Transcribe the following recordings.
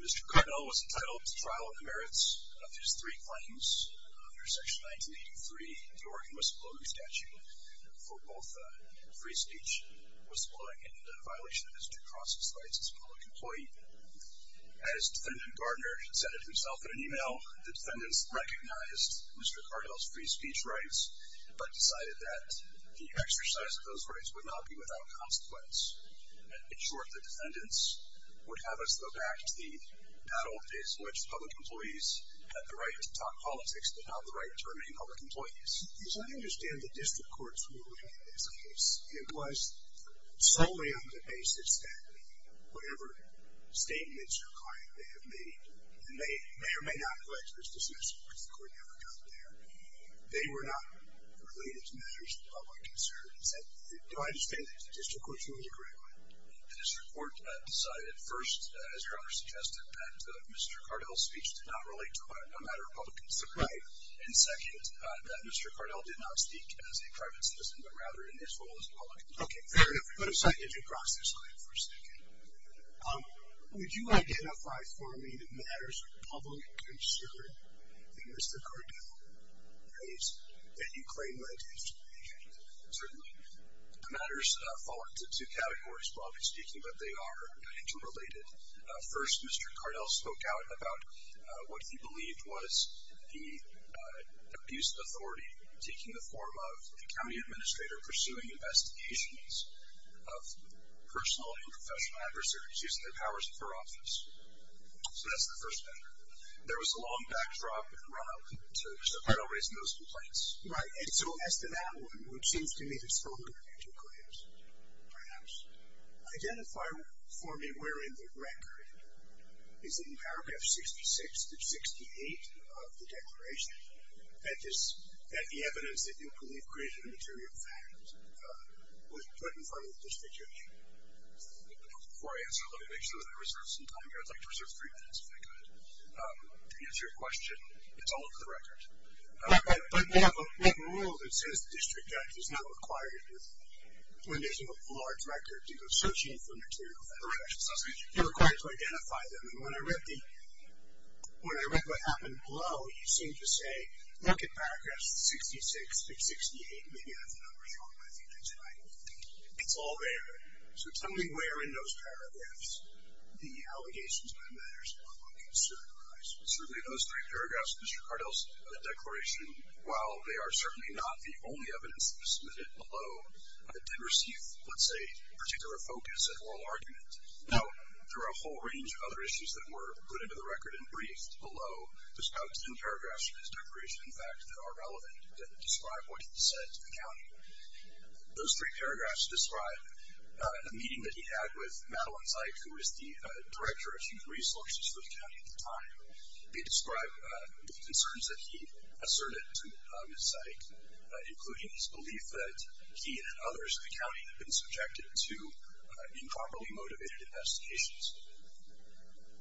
Mr. Kardell was entitled to trial on the merits of his three claims under Section 1983, the Oregon whistleblowing statute, for both free speech, whistleblowing, and violation of his due process rights as a public employee. As Defendant Gardner said it himself in an email, the defendants recognized Mr. Kardell's free speech rights, but decided that the exercise of those rights would not be without consequence. In short, the defendants would have us go back to the battle in which public employees had the right to talk politics but not the right to remain public employees. So I understand the district courts were looking at this case. It was solely on the basis that whatever statements your client may have made, and may or may not have expressed dismissal because the court never got there, they were not related to matters of public concern. Do I understand that the district courts really agree on it? The district court decided first, as your Honor suggested, that Mr. Kardell's speech did not relate to a matter of public concern. Right. And second, that Mr. Kardell did not speak as a private citizen, but rather in his role as a public employee. Okay, fair enough. Let me put a signage across this line for a second. Would you identify for me the matters of public concern that Mr. Kardell raised that you claim led to his defeat? Certainly. The matters fall into two categories, broadly speaking, but they are interrelated. First, Mr. Kardell spoke out about what he believed was the abuse of authority, taking the form of the county administrator pursuing investigations of personal and professional adversaries using their powers of office. So that's the first measure. There was a long backdrop and run-up to Mr. Kardell raising those complaints. Right. And so as to that one, which seems to me to have spoken of your two claims, perhaps, identify for me where in the record is it in paragraph 66-68 of the declaration that the evidence that you believe created a material fact was put in front of the district attorney? Before I answer, let me make sure that I reserve some time here. I'd like to reserve three minutes, if I could, to answer your question. It's all over the record. But we have a rule that says the district judge is not required to, when there's a large record of searching for material facts, you're required to identify them. And when I read what happened below, you seemed to say, look at paragraphs 66-68. Maybe I have the numbers wrong. I think that's right. It's all there. So tell me where in those paragraphs the allegations by matters are concerned arise. Certainly in those three paragraphs, Mr. Kardell's declaration, while they are certainly not the only evidence submitted below, did receive, let's say, particular focus and oral argument. Now, there are a whole range of other issues that were put into the record and briefed below. There's about ten paragraphs in his declaration, in fact, Those three paragraphs describe a meeting that he had with Madeleine Zeit, who was the director of human resources for the county at the time. They describe the concerns that he asserted to Zeit, including his belief that he and others in the county had been subjected to improperly motivated investigations.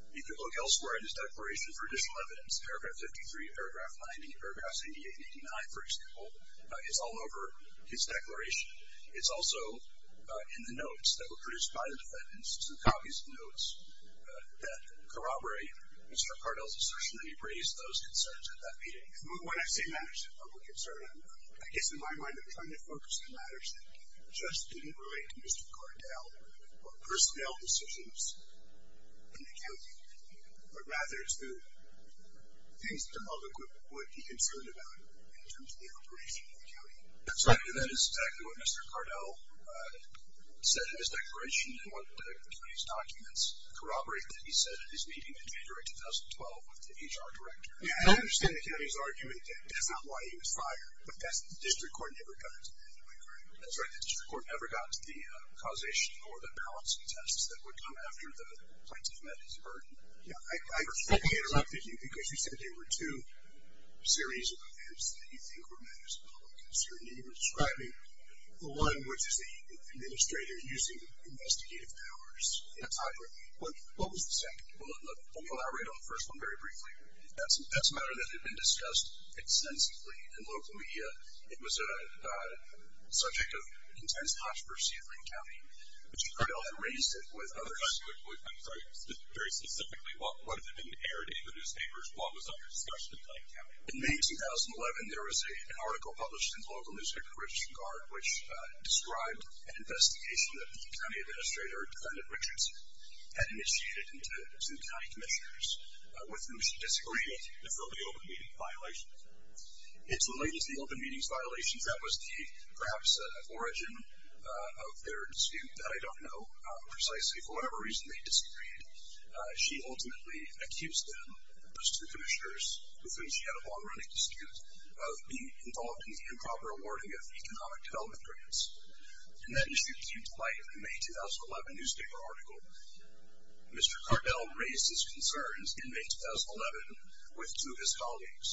You could look elsewhere in his declaration for additional evidence. Paragraph 53, paragraph 90, paragraph 88 and 89, for example, is all over his declaration. It's also in the notes that were produced by the defendants, some copies of the notes that corroborate Mr. Kardell's assertion that he raised those concerns at that meeting. When I say matters of public concern, I guess in my mind I'm trying to focus on matters that just didn't relate to Mr. Kardell or personnel decisions in the county, but rather to things that the public would be concerned about in terms of the operation of the county. And that is exactly what Mr. Kardell said in his declaration and what the county's documents corroborate that he said at his meeting in February 2012 with the HR director. I understand the county's argument that that's not why he was fired, but that's what the district court never got. That's right, the district court never got the causation or the balancing tests that would come after the plaintiff met his burden. I interrupted you because you said there were two series of events that you think were matters of public concern. You were describing the one which is the administrator using investigative powers. That's right. What was the second? We'll elaborate on the first one very briefly. That's a matter that had been discussed extensively in local media. It was a subject of intense controversy in Lane County, but Mr. Kardell had raised it with others. I'm sorry, very specifically, what if it didn't air in any of the newspapers? What was under discussion in Lane County? In May 2011, there was an article published in the local newspaper, Christian Guard, which described an investigation that the county administrator, defendant Richards, had initiated into the county commissioners with whom she disagreed and filled the open meeting violations. It's related to the open meetings violations. That was perhaps the origin of their dispute that I don't know precisely. For whatever reason, they disagreed. She ultimately accused them, those two commissioners, with whom she had a long-running dispute, of being involved in the improper awarding of economic development grants. That issue came to light in a May 2011 newspaper article. Mr. Kardell raised his concerns in May 2011 with two of his colleagues,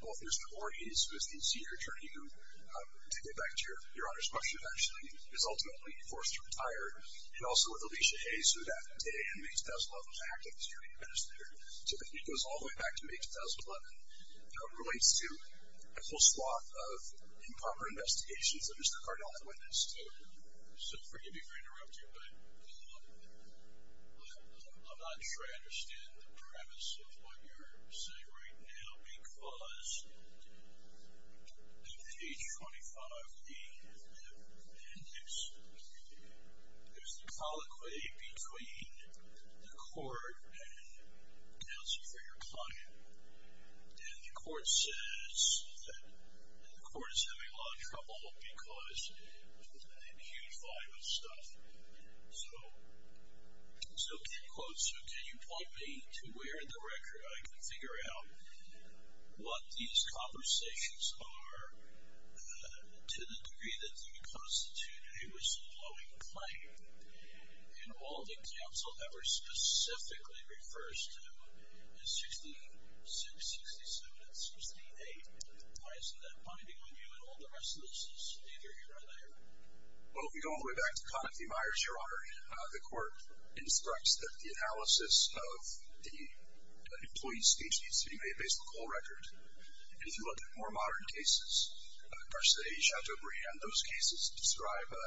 both Mr. Orniz, who is the senior attorney who, to get back to your Honor's question, eventually is ultimately forced to retire, and also with Alicia Hayes, who that day in May 2011 acted as county administrator. So the feed goes all the way back to May 2011. It relates to a whole swath of improper investigations that Mr. Kardell had witnessed. So forgive me for interrupting, but I'm not sure I understand the premise of what you're saying right now. Because at page 25 in the appendix, there's the colloquy between the court and counsel for your client. And the court says that the court is having a lot of trouble because of that huge volume of stuff. So, quote, so can you point me to where in the record I can figure out what these conversations are to the degree that you constitute a blowing flame? And all that counsel ever specifically refers to is 66, 67, and 68. Why isn't that binding on you at all? The rest of this is neither here nor there. Well, if we go all the way back to Conniff v. Myers, Your Honor, the court instructs that the analysis of the employee's speech needs to be made based on the whole record. And if you look at more modern cases, varsity, Chateaubriand, those cases describe a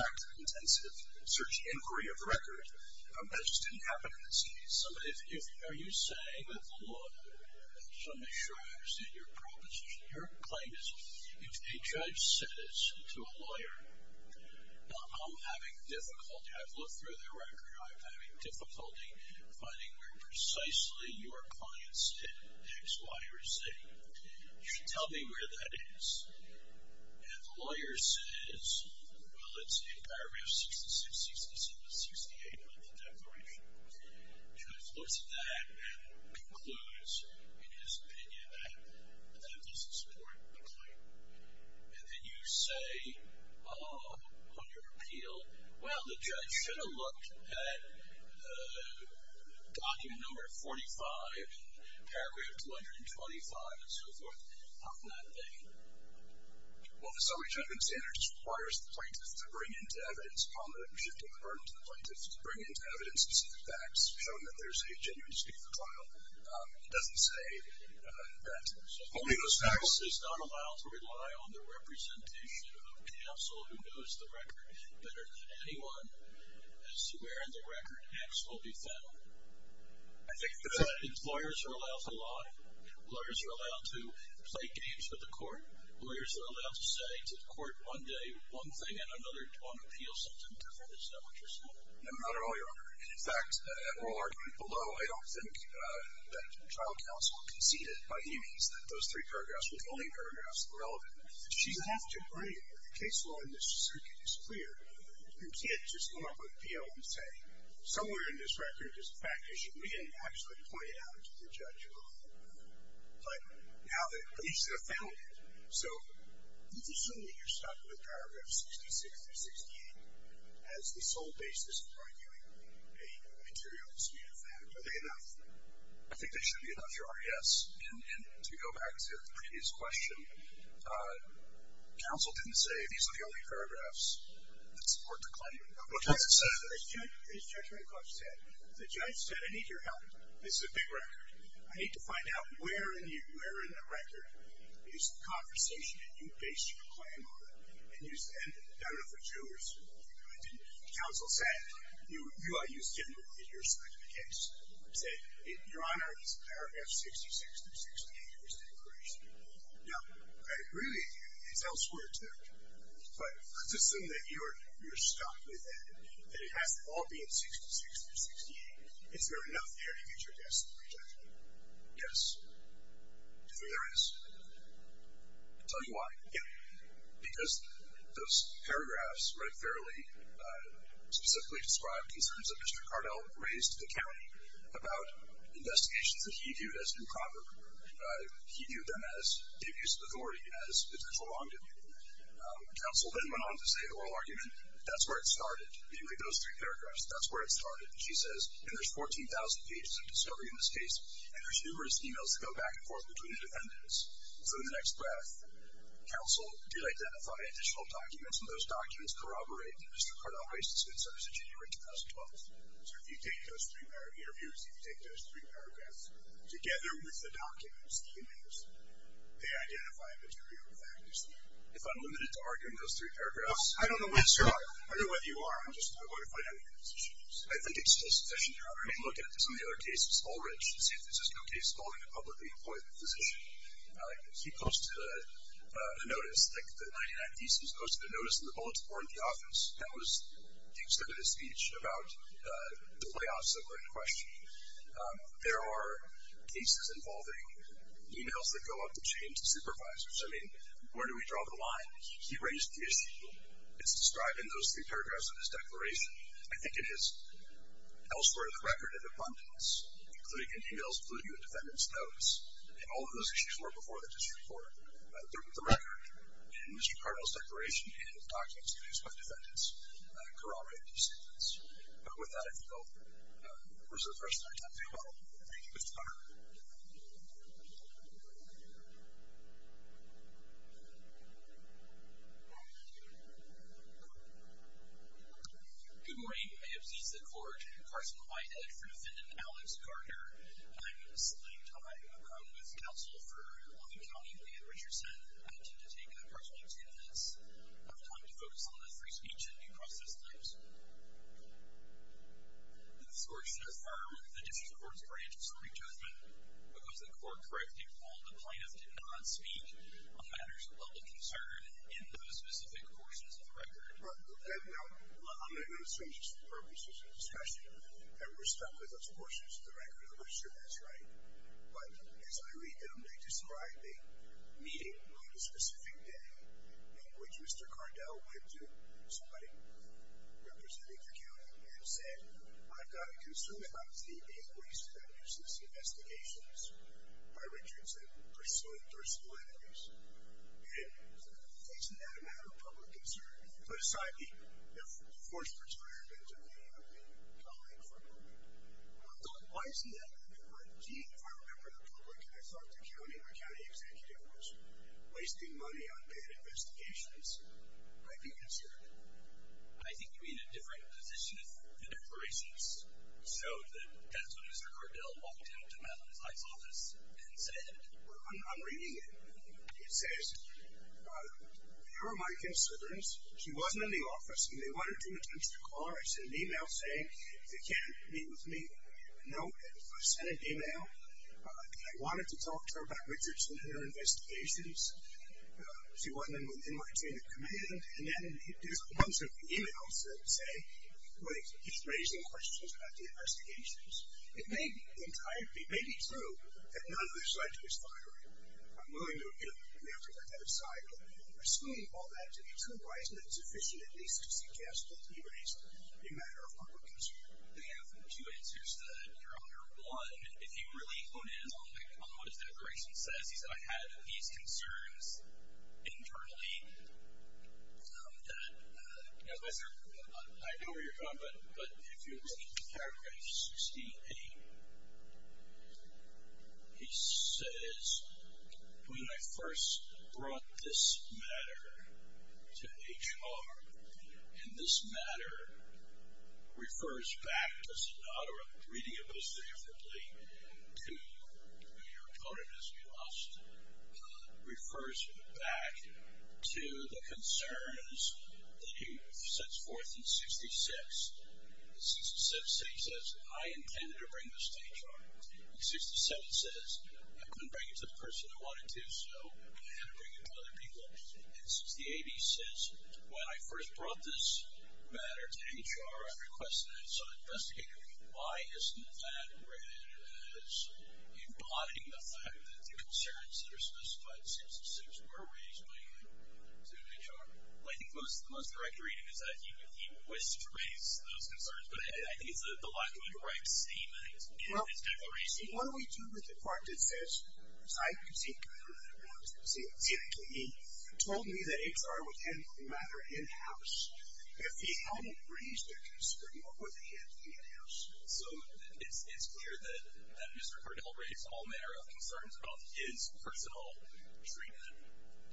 fact-intensive search inquiry of the record. That just didn't happen in this case. Are you saying that the law, so I'm not sure I understand your proposition, your claim is if a judge says to a lawyer, I'm having difficulty, I've looked through the record, I'm having difficulty finding where precisely your clients did X, Y, or Z. You should tell me where that is. And the lawyer says, well, it's in paragraph 66, 67, 68 of the declaration. Judge looks at that and concludes, in his opinion, that that doesn't support the claim. And then you say, oh, on your appeal, well, the judge should have looked at document number 45, paragraph 225, and so forth. How can that be? Well, the summary judgment standards requires the plaintiff to bring into evidence upon the shift of the burden to the plaintiff to bring into evidence specific facts showing that there's a genuine dispute in the trial. It doesn't say that only those facts. This is not allowed to rely on the representation of counsel who knows the record better than anyone as to where in the record X will be found. Employers are allowed to lie. Lawyers are allowed to play games with the court. Lawyers are allowed to say to the court one day one thing and another on appeal something different. It's not what you're saying. No, not at all, Your Honor. In fact, at oral argument below, I don't think that trial counsel conceded by any means that those three paragraphs were the only paragraphs relevant. She's half to blame. The case law in this circuit is clear. You can't just go on with appeal and say somewhere in this record is the fact issue. We didn't actually point it out to the judge at all. But now that police have found it, so you can assume that you're stuck with paragraph 66 through 68 as the sole basis for arguing a material dispute of that. Are they enough? I think they should be enough, Your Honor. Yes. And to go back to the previous question, counsel didn't say these are the only paragraphs that support the claim. The judge said, I need your help. This is a big record. I need to find out where in the record is the conversation that you based your claim on. And you said, I don't know if it's you or somebody else. Counsel said, you are used to your side of the case. Your Honor, this paragraph 66 through 68 was the incursion. Now, I agree with you. It's elsewhere too. But let's assume that you're stuck with it, that it has to all be in 66 through 68. Is there enough there to get your guess at the breach, I think? Yes. There is. I'll tell you why. Yeah. Because those paragraphs write fairly, specifically describe concerns that Mr. Cardell raised to the county about investigations that he viewed as improper. He viewed them as abuse of authority, as it's prolonged. Counsel then went on to say the oral argument, that's where it started, namely those three paragraphs. That's where it started. She says, and there's 14,000 pages of discovery in this case, and there's numerous emails that go back and forth between the defendants. So in the next breath, counsel did identify additional documents, and those documents corroborate that Mr. Cardell raised his concerns in January 2012. So if you take those three interviews, if you take those three paragraphs together with the documents, the emails, they identify material factors there. If I'm limited to arguing those three paragraphs? I don't know whether you are. I'm just going to find out what your position is. I think it's just that you're already looking at this in the other cases. All written should say there's no case involving a publicly appointed physician. I like this. He posted a notice. He posted a notice in the bulletin board in the office. That was the extent of his speech about the layoffs that were in question. There are cases involving emails that go up between supervisors. I mean, where do we draw the line? He raised the issue. It's described in those three paragraphs of his declaration. I think it is elsewhere in the record in abundance, including in emails, including in defendants' notes. And all of those issues were before the district court. They're in the record. And Mr. Cardwell's declaration and documents produced by the defendants corroborate his statements. But with that, I think I'll reserve the rest of my time. Farewell. Thank you. Mr. Carter. Good morning. I am Zisa Cord, Carson Whitehead for defendant Alex Carter. And I'm in a slitting time with counsel for Long Beach County, Leigh Ann Richardson. I intend to take a personal attendance. I have time to focus on the free speech and due process notes. The court should affirm the district court's branch of Supreme Judgment because the court correctly called the plaintiff did not speak on matters of public concern in those specific portions of the record. Now, I'm going to assume just for purposes of discussion that we're sure that's right. But as I read them, they describe a meeting on a specific day in which Mr. Cardwell went to somebody representing the county and said, I've got a concern about the increase in the nuisance investigations by Richardson pursuing thirsty letters. And it's not a matter of public concern. But aside the forced retirement of the colleague from Long Beach. I thought, why isn't that a good word? Gee, if I remember it in public and I thought the county or county executive was wasting money on bad investigations, I'd be concerned. I think you're in a different position of the declarations. So that's when Mr. Cardwell walked into Matt Luzak's office and said. I'm reading it. It says, here are my concerns. She wasn't in the office. And they wanted to attempt to call her. She sent an e-mail saying, if you can't meet with me, no. And sent an e-mail. I wanted to talk to her about Richardson and her investigations. She wasn't in my chain of command. And then there's a bunch of e-mails that say, wait, he's raising questions about the investigations. It may be true that none of this led to his firing. I'm willing to, you know, we have to put that aside. But assuming all that to be true, why isn't it sufficient at least to suggest that he raised a matter of public concern? I have two answers to that, Your Honor. One, if you really hone in a little bit on what his declaration says, he said, I had these concerns internally that, you know, I know where you're coming from. But if you look at the paragraph 68, he says, when I first brought this matter to HR, and this matter refers back, does it not, or I'm reading it most differently to, you know, you're quoted as being lost, refers back to the concerns that he sets forth in 66. In 67, he says, I intended to bring this to HR. In 67, he says, I couldn't bring it to the person I wanted to, so I had to bring it to other people. And 68, he says, when I first brought this matter to HR, I requested it, so I investigated it. Why isn't that read as embodying the fact that the concerns that are specified in 66 were raised by him to HR? Well, I think the most correct reading is that he wished to raise those concerns. But I think it's the lack of a direct statement in his declaration. Well, what do we do with the part that says, I conceded to HR that I wanted to concede to him. He told me that HR would handle the matter in-house. If he hadn't raised a concern, what would he have done in-house? So it's clear that Mr. Cardell raised all manner of concerns about his personal treatment.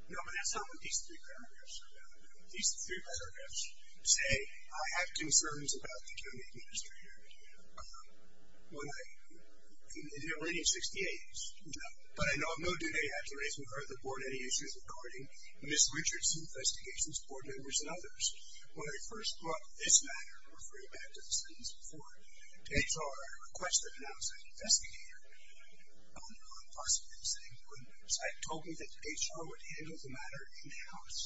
No, but that's not what these three paragraphs are about. These three paragraphs say, I have concerns about the attorney administrator. When I did it in 68, you know, but I know no do they have to raise with her or the board any issues regarding Ms. Richards' investigations, board members, and others. When I first brought this matter, referring back to the sentence before, to HR, I requested it and I was an investigator. I don't know how possible this thing would be. Once I told him that HR would handle the matter in-house,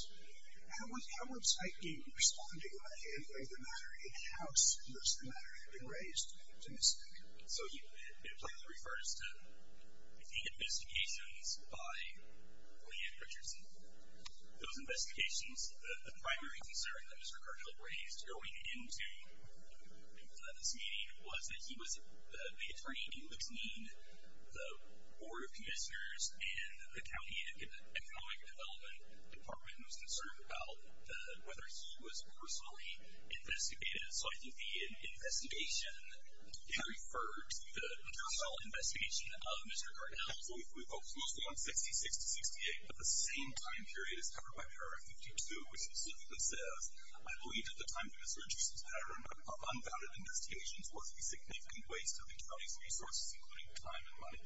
how was I responding by handling the matter in-house, unless the matter had been raised to Ms. Richards? So you're referring to the investigations by Leigh Ann Richards. Those investigations, the primary concern that Mr. Cardell raised going into this meeting was that he was the attorney in between the board of commissioners and the county economic development department was concerned about whether he was personally investigated. So I think the investigation, he referred to the additional investigation of Mr. Cardell. We focused mostly on 66 to 68, but the same time period is covered by paragraph 52, which specifically says, I believe at the time that Ms. Richards was hired, unfounded investigations were a significant waste of attorney's resources, including time and money.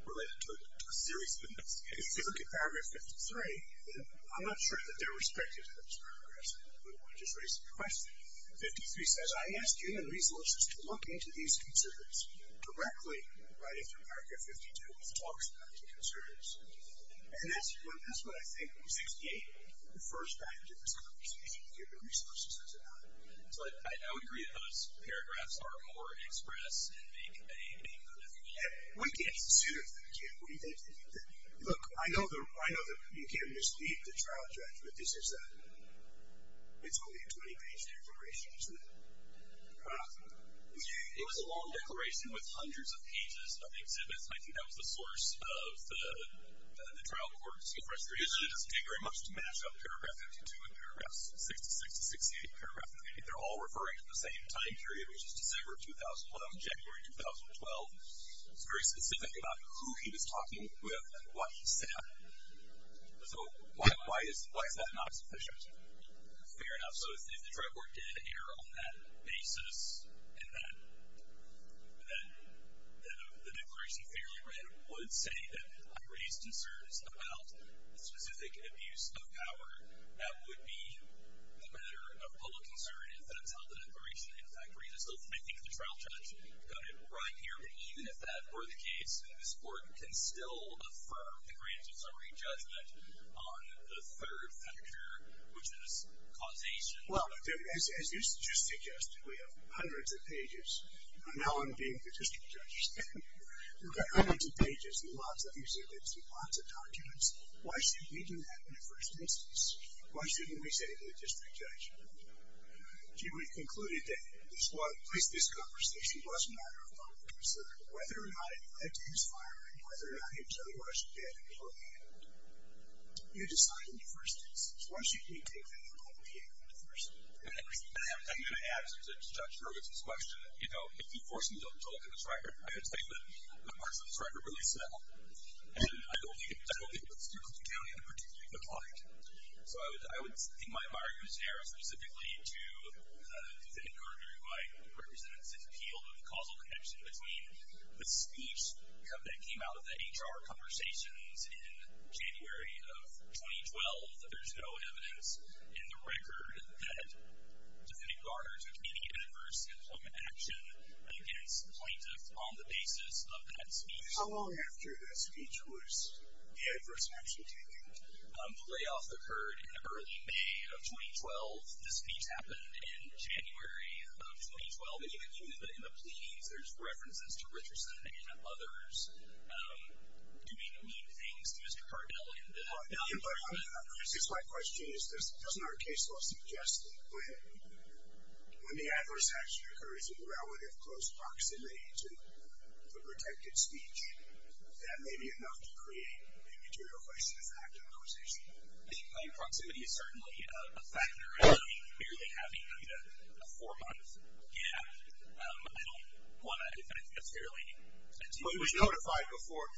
Related to a serious business. If you look at paragraph 53, I'm not sure that they're respected in those paragraphs, but I want to just raise a question. 53 says, I ask human resources to look into these concerns directly, right into paragraph 52, which talks about the concerns. And that's what I think 68 refers back to in this conversation, human resources as an item. I would agree that those paragraphs are more express and make a name for themselves. What do you think? Look, I know that you can't mislead the trial judge, but this is a, it's only a 20 page declaration, isn't it? It was a long declaration with hundreds of pages of exhibits. And I think that was the source of the trial court's frustration. It doesn't take very much to mash up paragraph 52 and paragraph 66 to 68, paragraph 98. They're all referring to the same time period, which is December of 2011, January, 2012. It's very specific about who he was talking with and what he said. So why is that not sufficient? Fair enough. So if the trial court did err on that basis, and then the declaration fairly readily would say that I raised concerns about the specific abuse of power, that would be a matter of public concern if that's how the declaration in fact reads. So I think the trial judge got it right here. But even if that were the case, this court can still affirm the granting summary judgment on the third factor, which is causation. Well, as you just suggested, we have hundreds of pages. Now I'm being the district judge. We've got hundreds of pages and lots of exhibits and lots of documents. Why should we do that in the first instance? Why shouldn't we say to the district judge? We concluded that at least this conversation was a matter of public concern, whether or not it led to his firing, whether or not he was otherwise dead or beheaded. You decide in the first instance. Why shouldn't we take that into public hearing in the first instance? I'm going to add to Judge Hurwitz's question, you know, if you force him to look at this record, I would say that a part of this record really says that. And I don't think it would steer Clinton County in a particularly good light. So I would think my argument is narrowed specifically to the defendant, Gardner, who I represent, has appealed of the causal connection between the speech that came out of the HR conversations in January of 2012, that there's no evidence in the record that defendant Gardner took any adverse employment action against the plaintiff on the basis of that speech. How long after that speech was the adverse action taken? The layoff occurred in early May of 2012. The speech happened in January of 2012. And you can see that in the pleadings, there's references to Richardson and others doing mean things to Mr. Cardell. It's my question. Doesn't our case law suggest that when the adverse action occurs in relative close proximity to the protected speech, that may be enough to create a material question of active conversation? I think by proximity is certainly a factor. I don't think merely having a four-month gap, I don't want to define it as fairly. But he was notified before.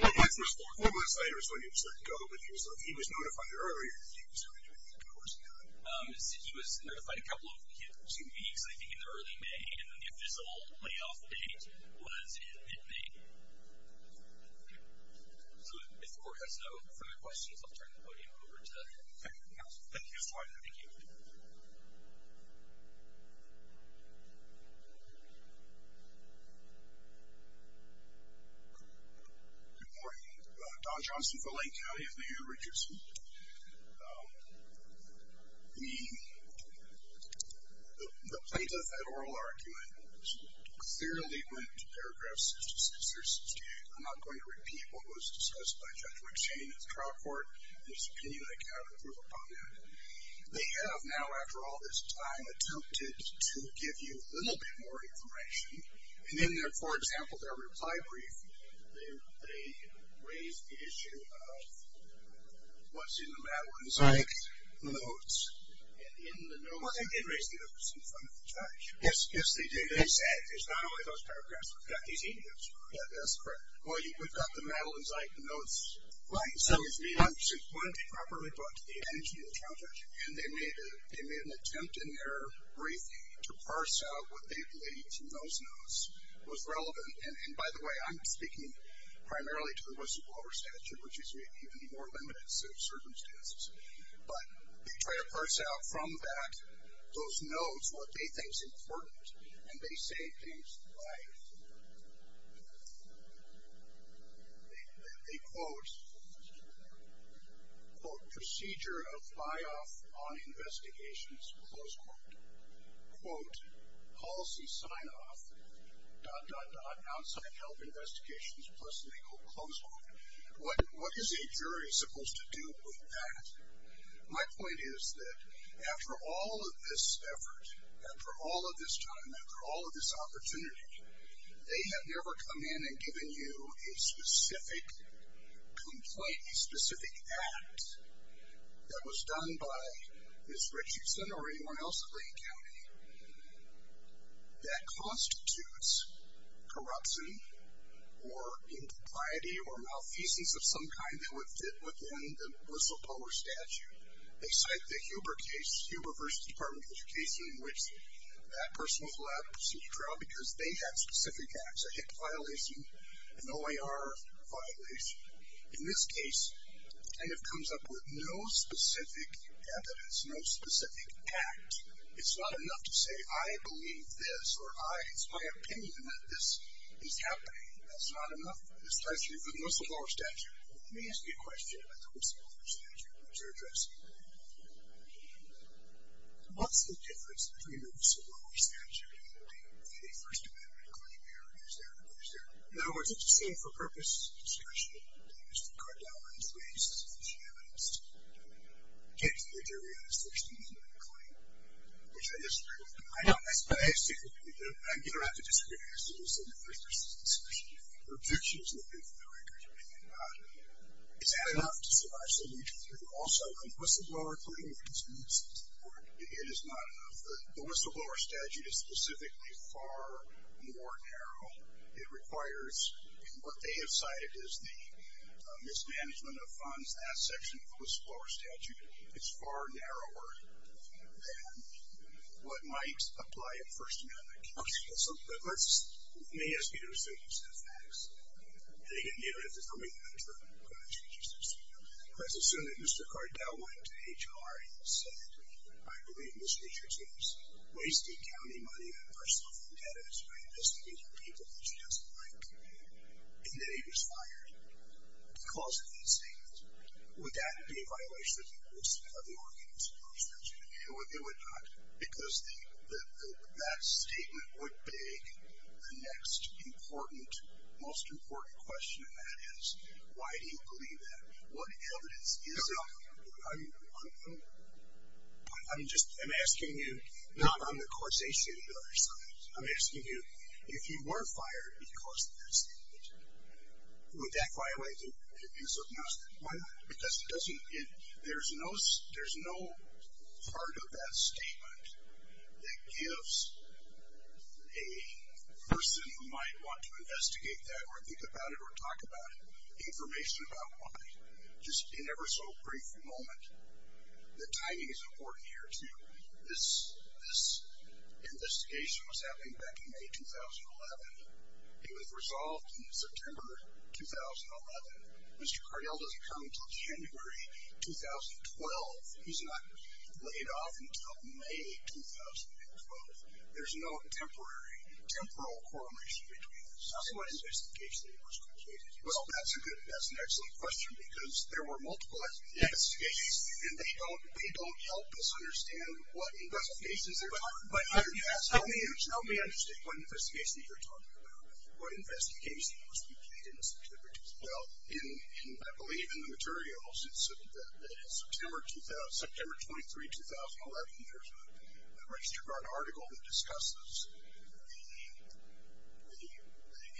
Four months later is when he was let go, but he was notified earlier. He was notified a couple of weeks, two weeks, I think, in early May. And the official layoff date was in mid-May. So if the court has no further questions, I'll turn the podium over to counsel. Thank you, Mr. Weinberg. Thank you. Good morning. Don Johnson for Lane County. It's me, Hugh Richardson. The plaintiff had oral argument. It clearly went into paragraph 66 or 68. I'm not going to repeat what was discussed by Judge Rickshane at the trial court. There's opinion I can have and proof upon that. They have now, after all this time, attempted to give you a little bit more information. And in their, for example, their reply brief, they raised the issue of what's in the Madeline Zeick notes. And in the notes. Well, they did raise the notes in front of the judge. Yes, they did. They said, it's not always those paragraphs. We've got these emails. Yeah, that's correct. Well, we've got the Madeline Zeick notes. Right. So it's being properly brought to the attention of the trial judge. And they made an attempt in their brief to parse out what they believe from those notes was relevant. And by the way, I'm speaking primarily to the whistleblower statute, which is even more limited circumstances. But they try to parse out from that, those notes, what they think is important. And they say things like, they quote, quote, quote, quote, quote, quote. My point is that after all of this effort, after all of this time, after all of this opportunity, they have never come in and given you a specific complaint, a specific act that was done by Ms. Richardson or anyone else at Lane County that constitutes corruption or impropriety or malfeasance of some kind that would fit within the whistleblower statute. They cite the Huber case, Huber v. Department of Education, in which that person was allowed to proceed to trial because they had specific acts, a HIC violation, an OIR violation. In this case, it kind of comes up with no specific evidence, no specific act. It's not enough to say, I believe this or I, it's my opinion that this is happening. That's not enough. This ties to the whistleblower statute. Let me ask you a question about the whistleblower statute, which you're addressing. What's the difference between the whistleblower statute and the First Amendment claim here? Is there, is there? In other words, it's the same for-purpose discussion that Mr. Cardone and his race has established. It gets to the jury in the First Amendment claim, which I disagree with. I don't disagree with it. I get around to disagreeing as to this in the First Amendment discussion. The objection is that there's no anchorage or anything about it. Is that enough to survive some mutual fear? Also, the whistleblower claim, for instance, it is not enough. The whistleblower statute is specifically far more narrow. It requires, in what they have cited as the mismanagement of funds, that section of the whistleblower statute is far narrower than what might apply in First Amendment cases. So let's, let me ask you the rest of your set of facts. And again, you don't have to tell me the answer, but I'm just going to just assume. Let's assume that Mr. Cardone went to HR and said, I believe Ms. Richards was wasting county money on personal vendettas by investigating people that she doesn't like. And then he was fired. Because of that statement, would that be a violation of the ordinance of the first amendment? It would not. Because that statement would beg the next important, most important question of that is, why do you believe that? What evidence is there on them? I'm just, I'm asking you, not on the causation of the other side. I'm asking you, if you were fired because of that statement, would that violate the use of muster? Why not? Because it doesn't, there's no part of that statement that gives a person who might want to investigate that or think about it or talk about it information about why. Just in every so brief moment. The timing is important here too. This investigation was happening back in May 2011. It was resolved in September 2011. Mr. Cardell doesn't come until January 2012. He's not laid off until May 2012. There's no temporary, temporal correlation between this. How soon was the investigation completed? Well, that's a good, that's an excellent question, because there were multiple investigations, and they don't help us understand what investigations they're talking about. Tell me I understand what investigation you're talking about. What investigation was completed in September 2012? I believe in the materials, it's September 23, 2011. There's a Registered Guard article that discusses the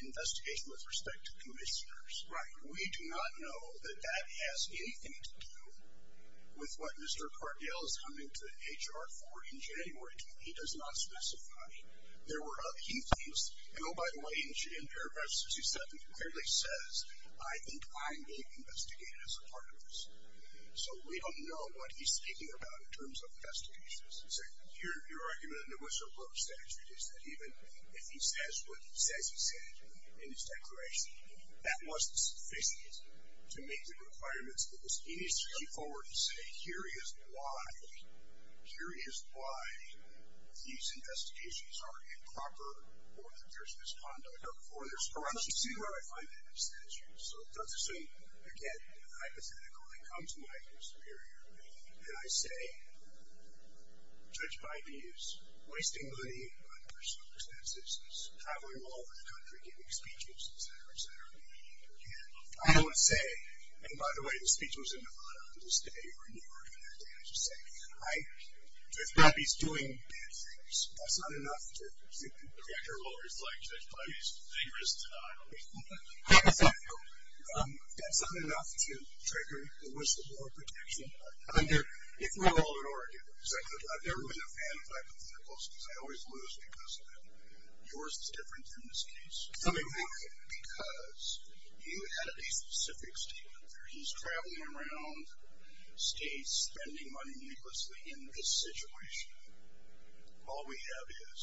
investigation with respect to commissioners. Right. We do not know that that has anything to do with what Mr. Cardell is coming to HR for in January. He does not specify. There were other key things. And, oh, by the way, in Paragraph 67, it clearly says, I think I'm being investigated as a part of this. So we don't know what he's speaking about in terms of investigations. Your argument in the whistleblower statute is that even if he says what he says he said in his declaration, that wasn't sufficient to meet the requirements, he needs to come forward and say, here is why these investigations are improper or that there's misconduct. Let's see where I find that in the statute. So it doesn't seem, again, hypothetical. It comes to mind in a superior way. And I say, judge Biden is wasting money on personal expenses, is traveling all over the country giving speeches, et cetera, et cetera. I don't want to say, and, by the way, the speech was in Nevada the other day or New York the other day. I'm just saying, I think that he's doing bad things. That's not enough to. The reactor will reflect Judge Biden's dangerous denial. How does that help? That's not enough to trigger the whistleblower protection. If we're all in Oregon, I've never been a fan of hypotheticals because I always lose because of them. Yours is different in this case. Because you added a specific statement there. He's traveling around states spending money needlessly in this situation. All we have is,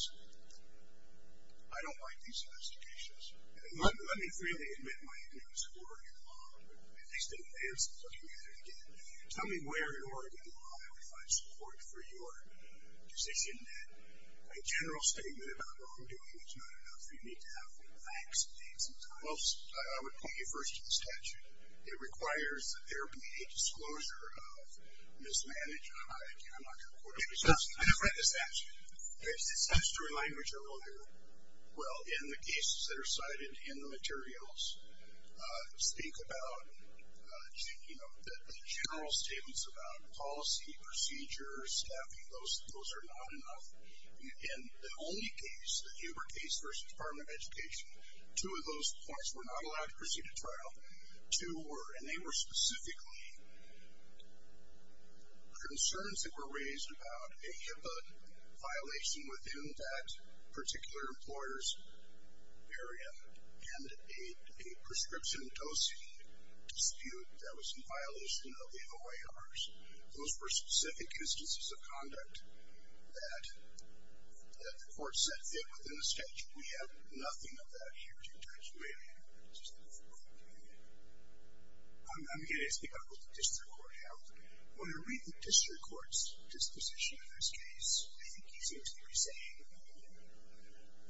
I don't like these investigations. Let me freely admit my ignorance of Oregon law, at least in advance of looking at it again. Tell me where in Oregon law I would find support for your decision that a general statement about wrongdoing is not enough. You need to have facts and things. Well, I would point you first to the statute. It requires that there be a disclosure of mismanagement. I'm not going to quote it. I never read the statute. It's history language. I won't hear it. Well, in the cases that are cited in the materials, think about the general statements about policy, procedures, staffing. Those are not enough. In the only case, the Huber case versus Department of Education, two of those points were not allowed to proceed to trial. Two were, and they were specifically concerns that were raised about a HIPAA violation within that particular employer's area and a prescription dosing dispute that was in violation of the OARs. Those were specific instances of conduct that the court set fit within the statute. We have nothing of that here to attest to it. I'm going to ask you about what the district court held. When I read the district court's disposition of this case, I think he seems to be saying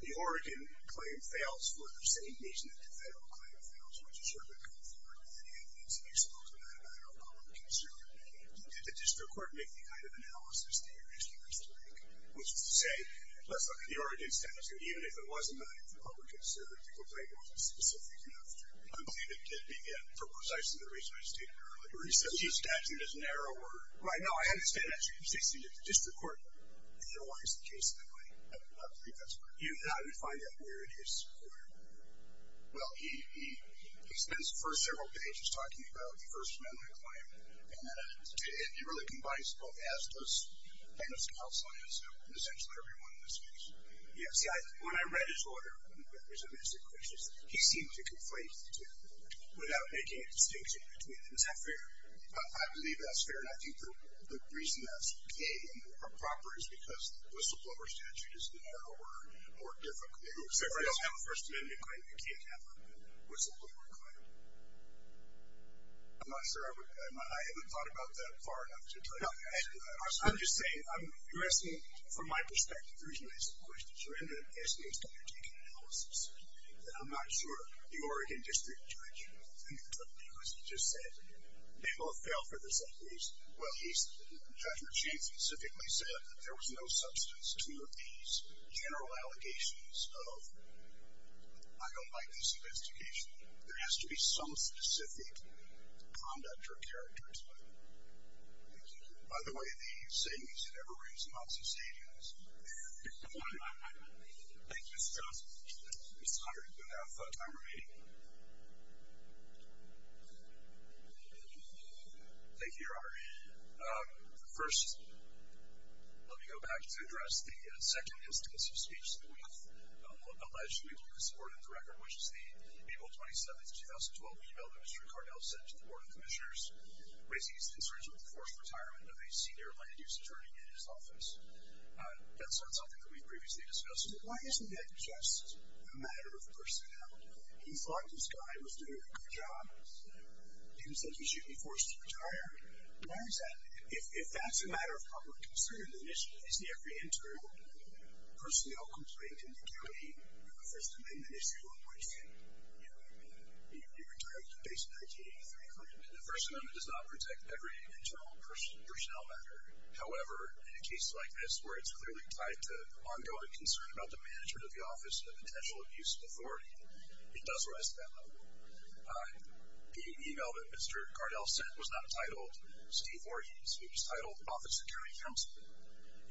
the Oregon claim fails for the same reason that the federal claim fails, which is sort of a comfort. I think it's an exposed matter of public concern. Did the district court make the kind of analysis that you're asking us to make, which is to say, let's look at the Oregon statute. Even if it wasn't a matter of public concern, the complaint wasn't specific enough to conclude it did begin for precisely the reason I stated earlier. He said the statute is narrower. Right, no, I understand that. You're saying that the district court analyzed the case that way. I do not believe that's correct. How did he find out where it is? Well, he spends the first several pages talking about the first amendment claim, and then he really combines it both as does kind of some health science and essentially everyone in this case. Yeah, see, when I read his order, there was a mix of questions that he seemed to conflate to without making a distinction between them. Is that fair? I believe that's fair, and I think the reason that's vague and improper is because the whistleblower statute is narrower, more difficult. If you don't have a first amendment claim, you can't have a whistleblower claim. I'm not sure. I haven't thought about that far enough to tell you that. I'm just saying, you're asking, from my perspective, the reason I ask the question, you're asking a statutory analysis. I'm not sure the Oregon district judge, who took the case, just said they both fell for the same reason. Well, the judge in the case specifically said that there was no substance to these general allegations of, I don't like this investigation. There has to be some specific conduct or character to it. By the way, the same reason everyone's in office is agents. Thank you, Mr. Johnson. Mr. Hunter, you have time remaining. Thank you, Your Honor. First, let me go back to address the second instance of speech that we've alleged we will support in the record, which is the April 27, 2012 email that Mr. Cardell sent to the Board of Commissioners raising his concerns with the forced retirement of a senior land-use attorney in his office. That's not something that we've previously discussed. Why isn't that just a matter of personnel? He thought this guy was doing a good job. He even said he shouldn't be forced to retire. Why is that? If that's a matter of public concern, then isn't the apprehended personnel complaint in the county a First Amendment issue on which you retired based in 1983? The First Amendment does not protect every internal personnel matter. However, in a case like this where it's clearly tied to ongoing concern about the management of the office and the potential abuse of authority, it does rise to that level. The email that Mr. Cardell sent was not titled Steve Origins. It was titled Office of County Counsel.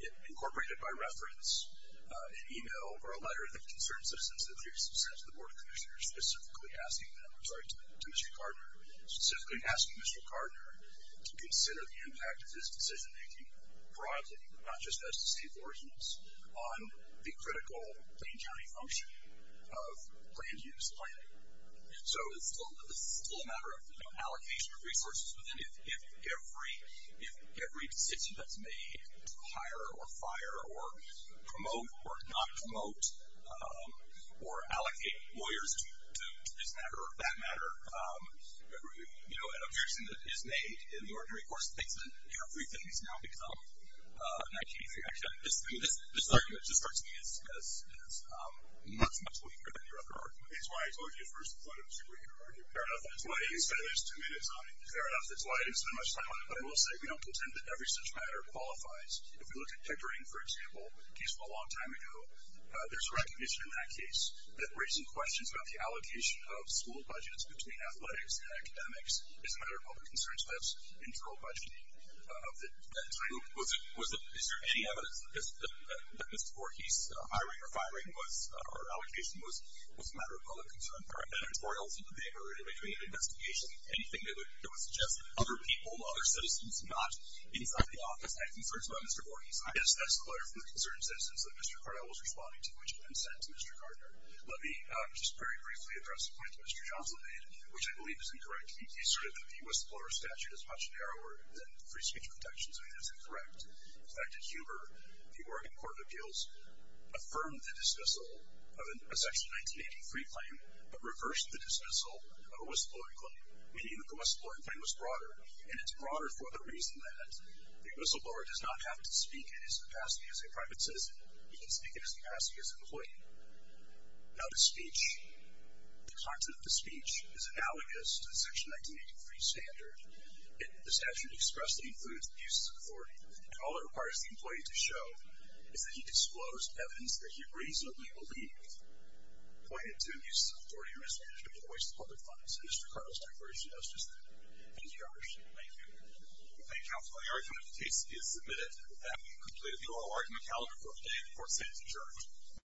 It incorporated by reference an email or a letter that concerned citizens in the previous instance of the Board of Commissioners, specifically asking them to Mr. Gardner, specifically asking Mr. Gardner to consider the impact of his decision-making broadly, not just as to Steve Origins, on the critical plain county function of land use planning. So it's still a matter of allocation of resources. If every decision that's made to hire or fire or promote or not promote or allocate lawyers to this matter or that matter, an objection that is made in the ordinary course of things, then everything has now become 1983. Actually, I mean, this argument just starts me as not as much of a leader than you're ever arguing. That's why I told you at first that's not a particularly good argument. Fair enough. That's why you said there's two minutes on it. Fair enough. That's why I didn't spend much time on it. But I will say we don't pretend that every such matter qualifies. If you look at Pickering, for example, a case from a long time ago, there's a recognition in that case that raising questions about the allocation of school budgets between athletics and academics is a matter of public concern, so that's internal budgeting of the title. So is there any evidence that Mr. Voorhees' hiring or firing or allocation was a matter of public concern? Are there editorials in the paper in between an investigation? Anything that would suggest other people, other citizens not inside the office had concerns about Mr. Voorhees? Yes, that's clear from the concerned citizens that Mr. Cardell was responding to which had been sent to Mr. Cardell. Let me just very briefly address a point that Mr. Johnson made, which I believe is incorrect. He asserted that the U.S. employer statute is much narrower than free speech protections. I mean, that's incorrect. In fact, at Huber, the Oregon Court of Appeals affirmed the dismissal of a Section 1983 claim but reversed the dismissal of a whistleblower claim, meaning that the whistleblower claim was broader, and it's broader for the reason that the whistleblower does not have to speak in his capacity as a private citizen. He can speak in his capacity as an employee. Now, the speech, the content of the speech is analogous to the Section 1983 standard. The statute expressly includes abuses of authority, and all it requires the employee to show is that he disclosed evidence that he reasonably believed pointed to abuses of authority or mismanagement of the waste of public funds, and Mr. Cardell's declaration does just that. Thank you, Your Honor. Thank you. Thank you, counsel. The argument of the case is submitted. That will conclude the oral argument calendar for today. The court stands adjourned.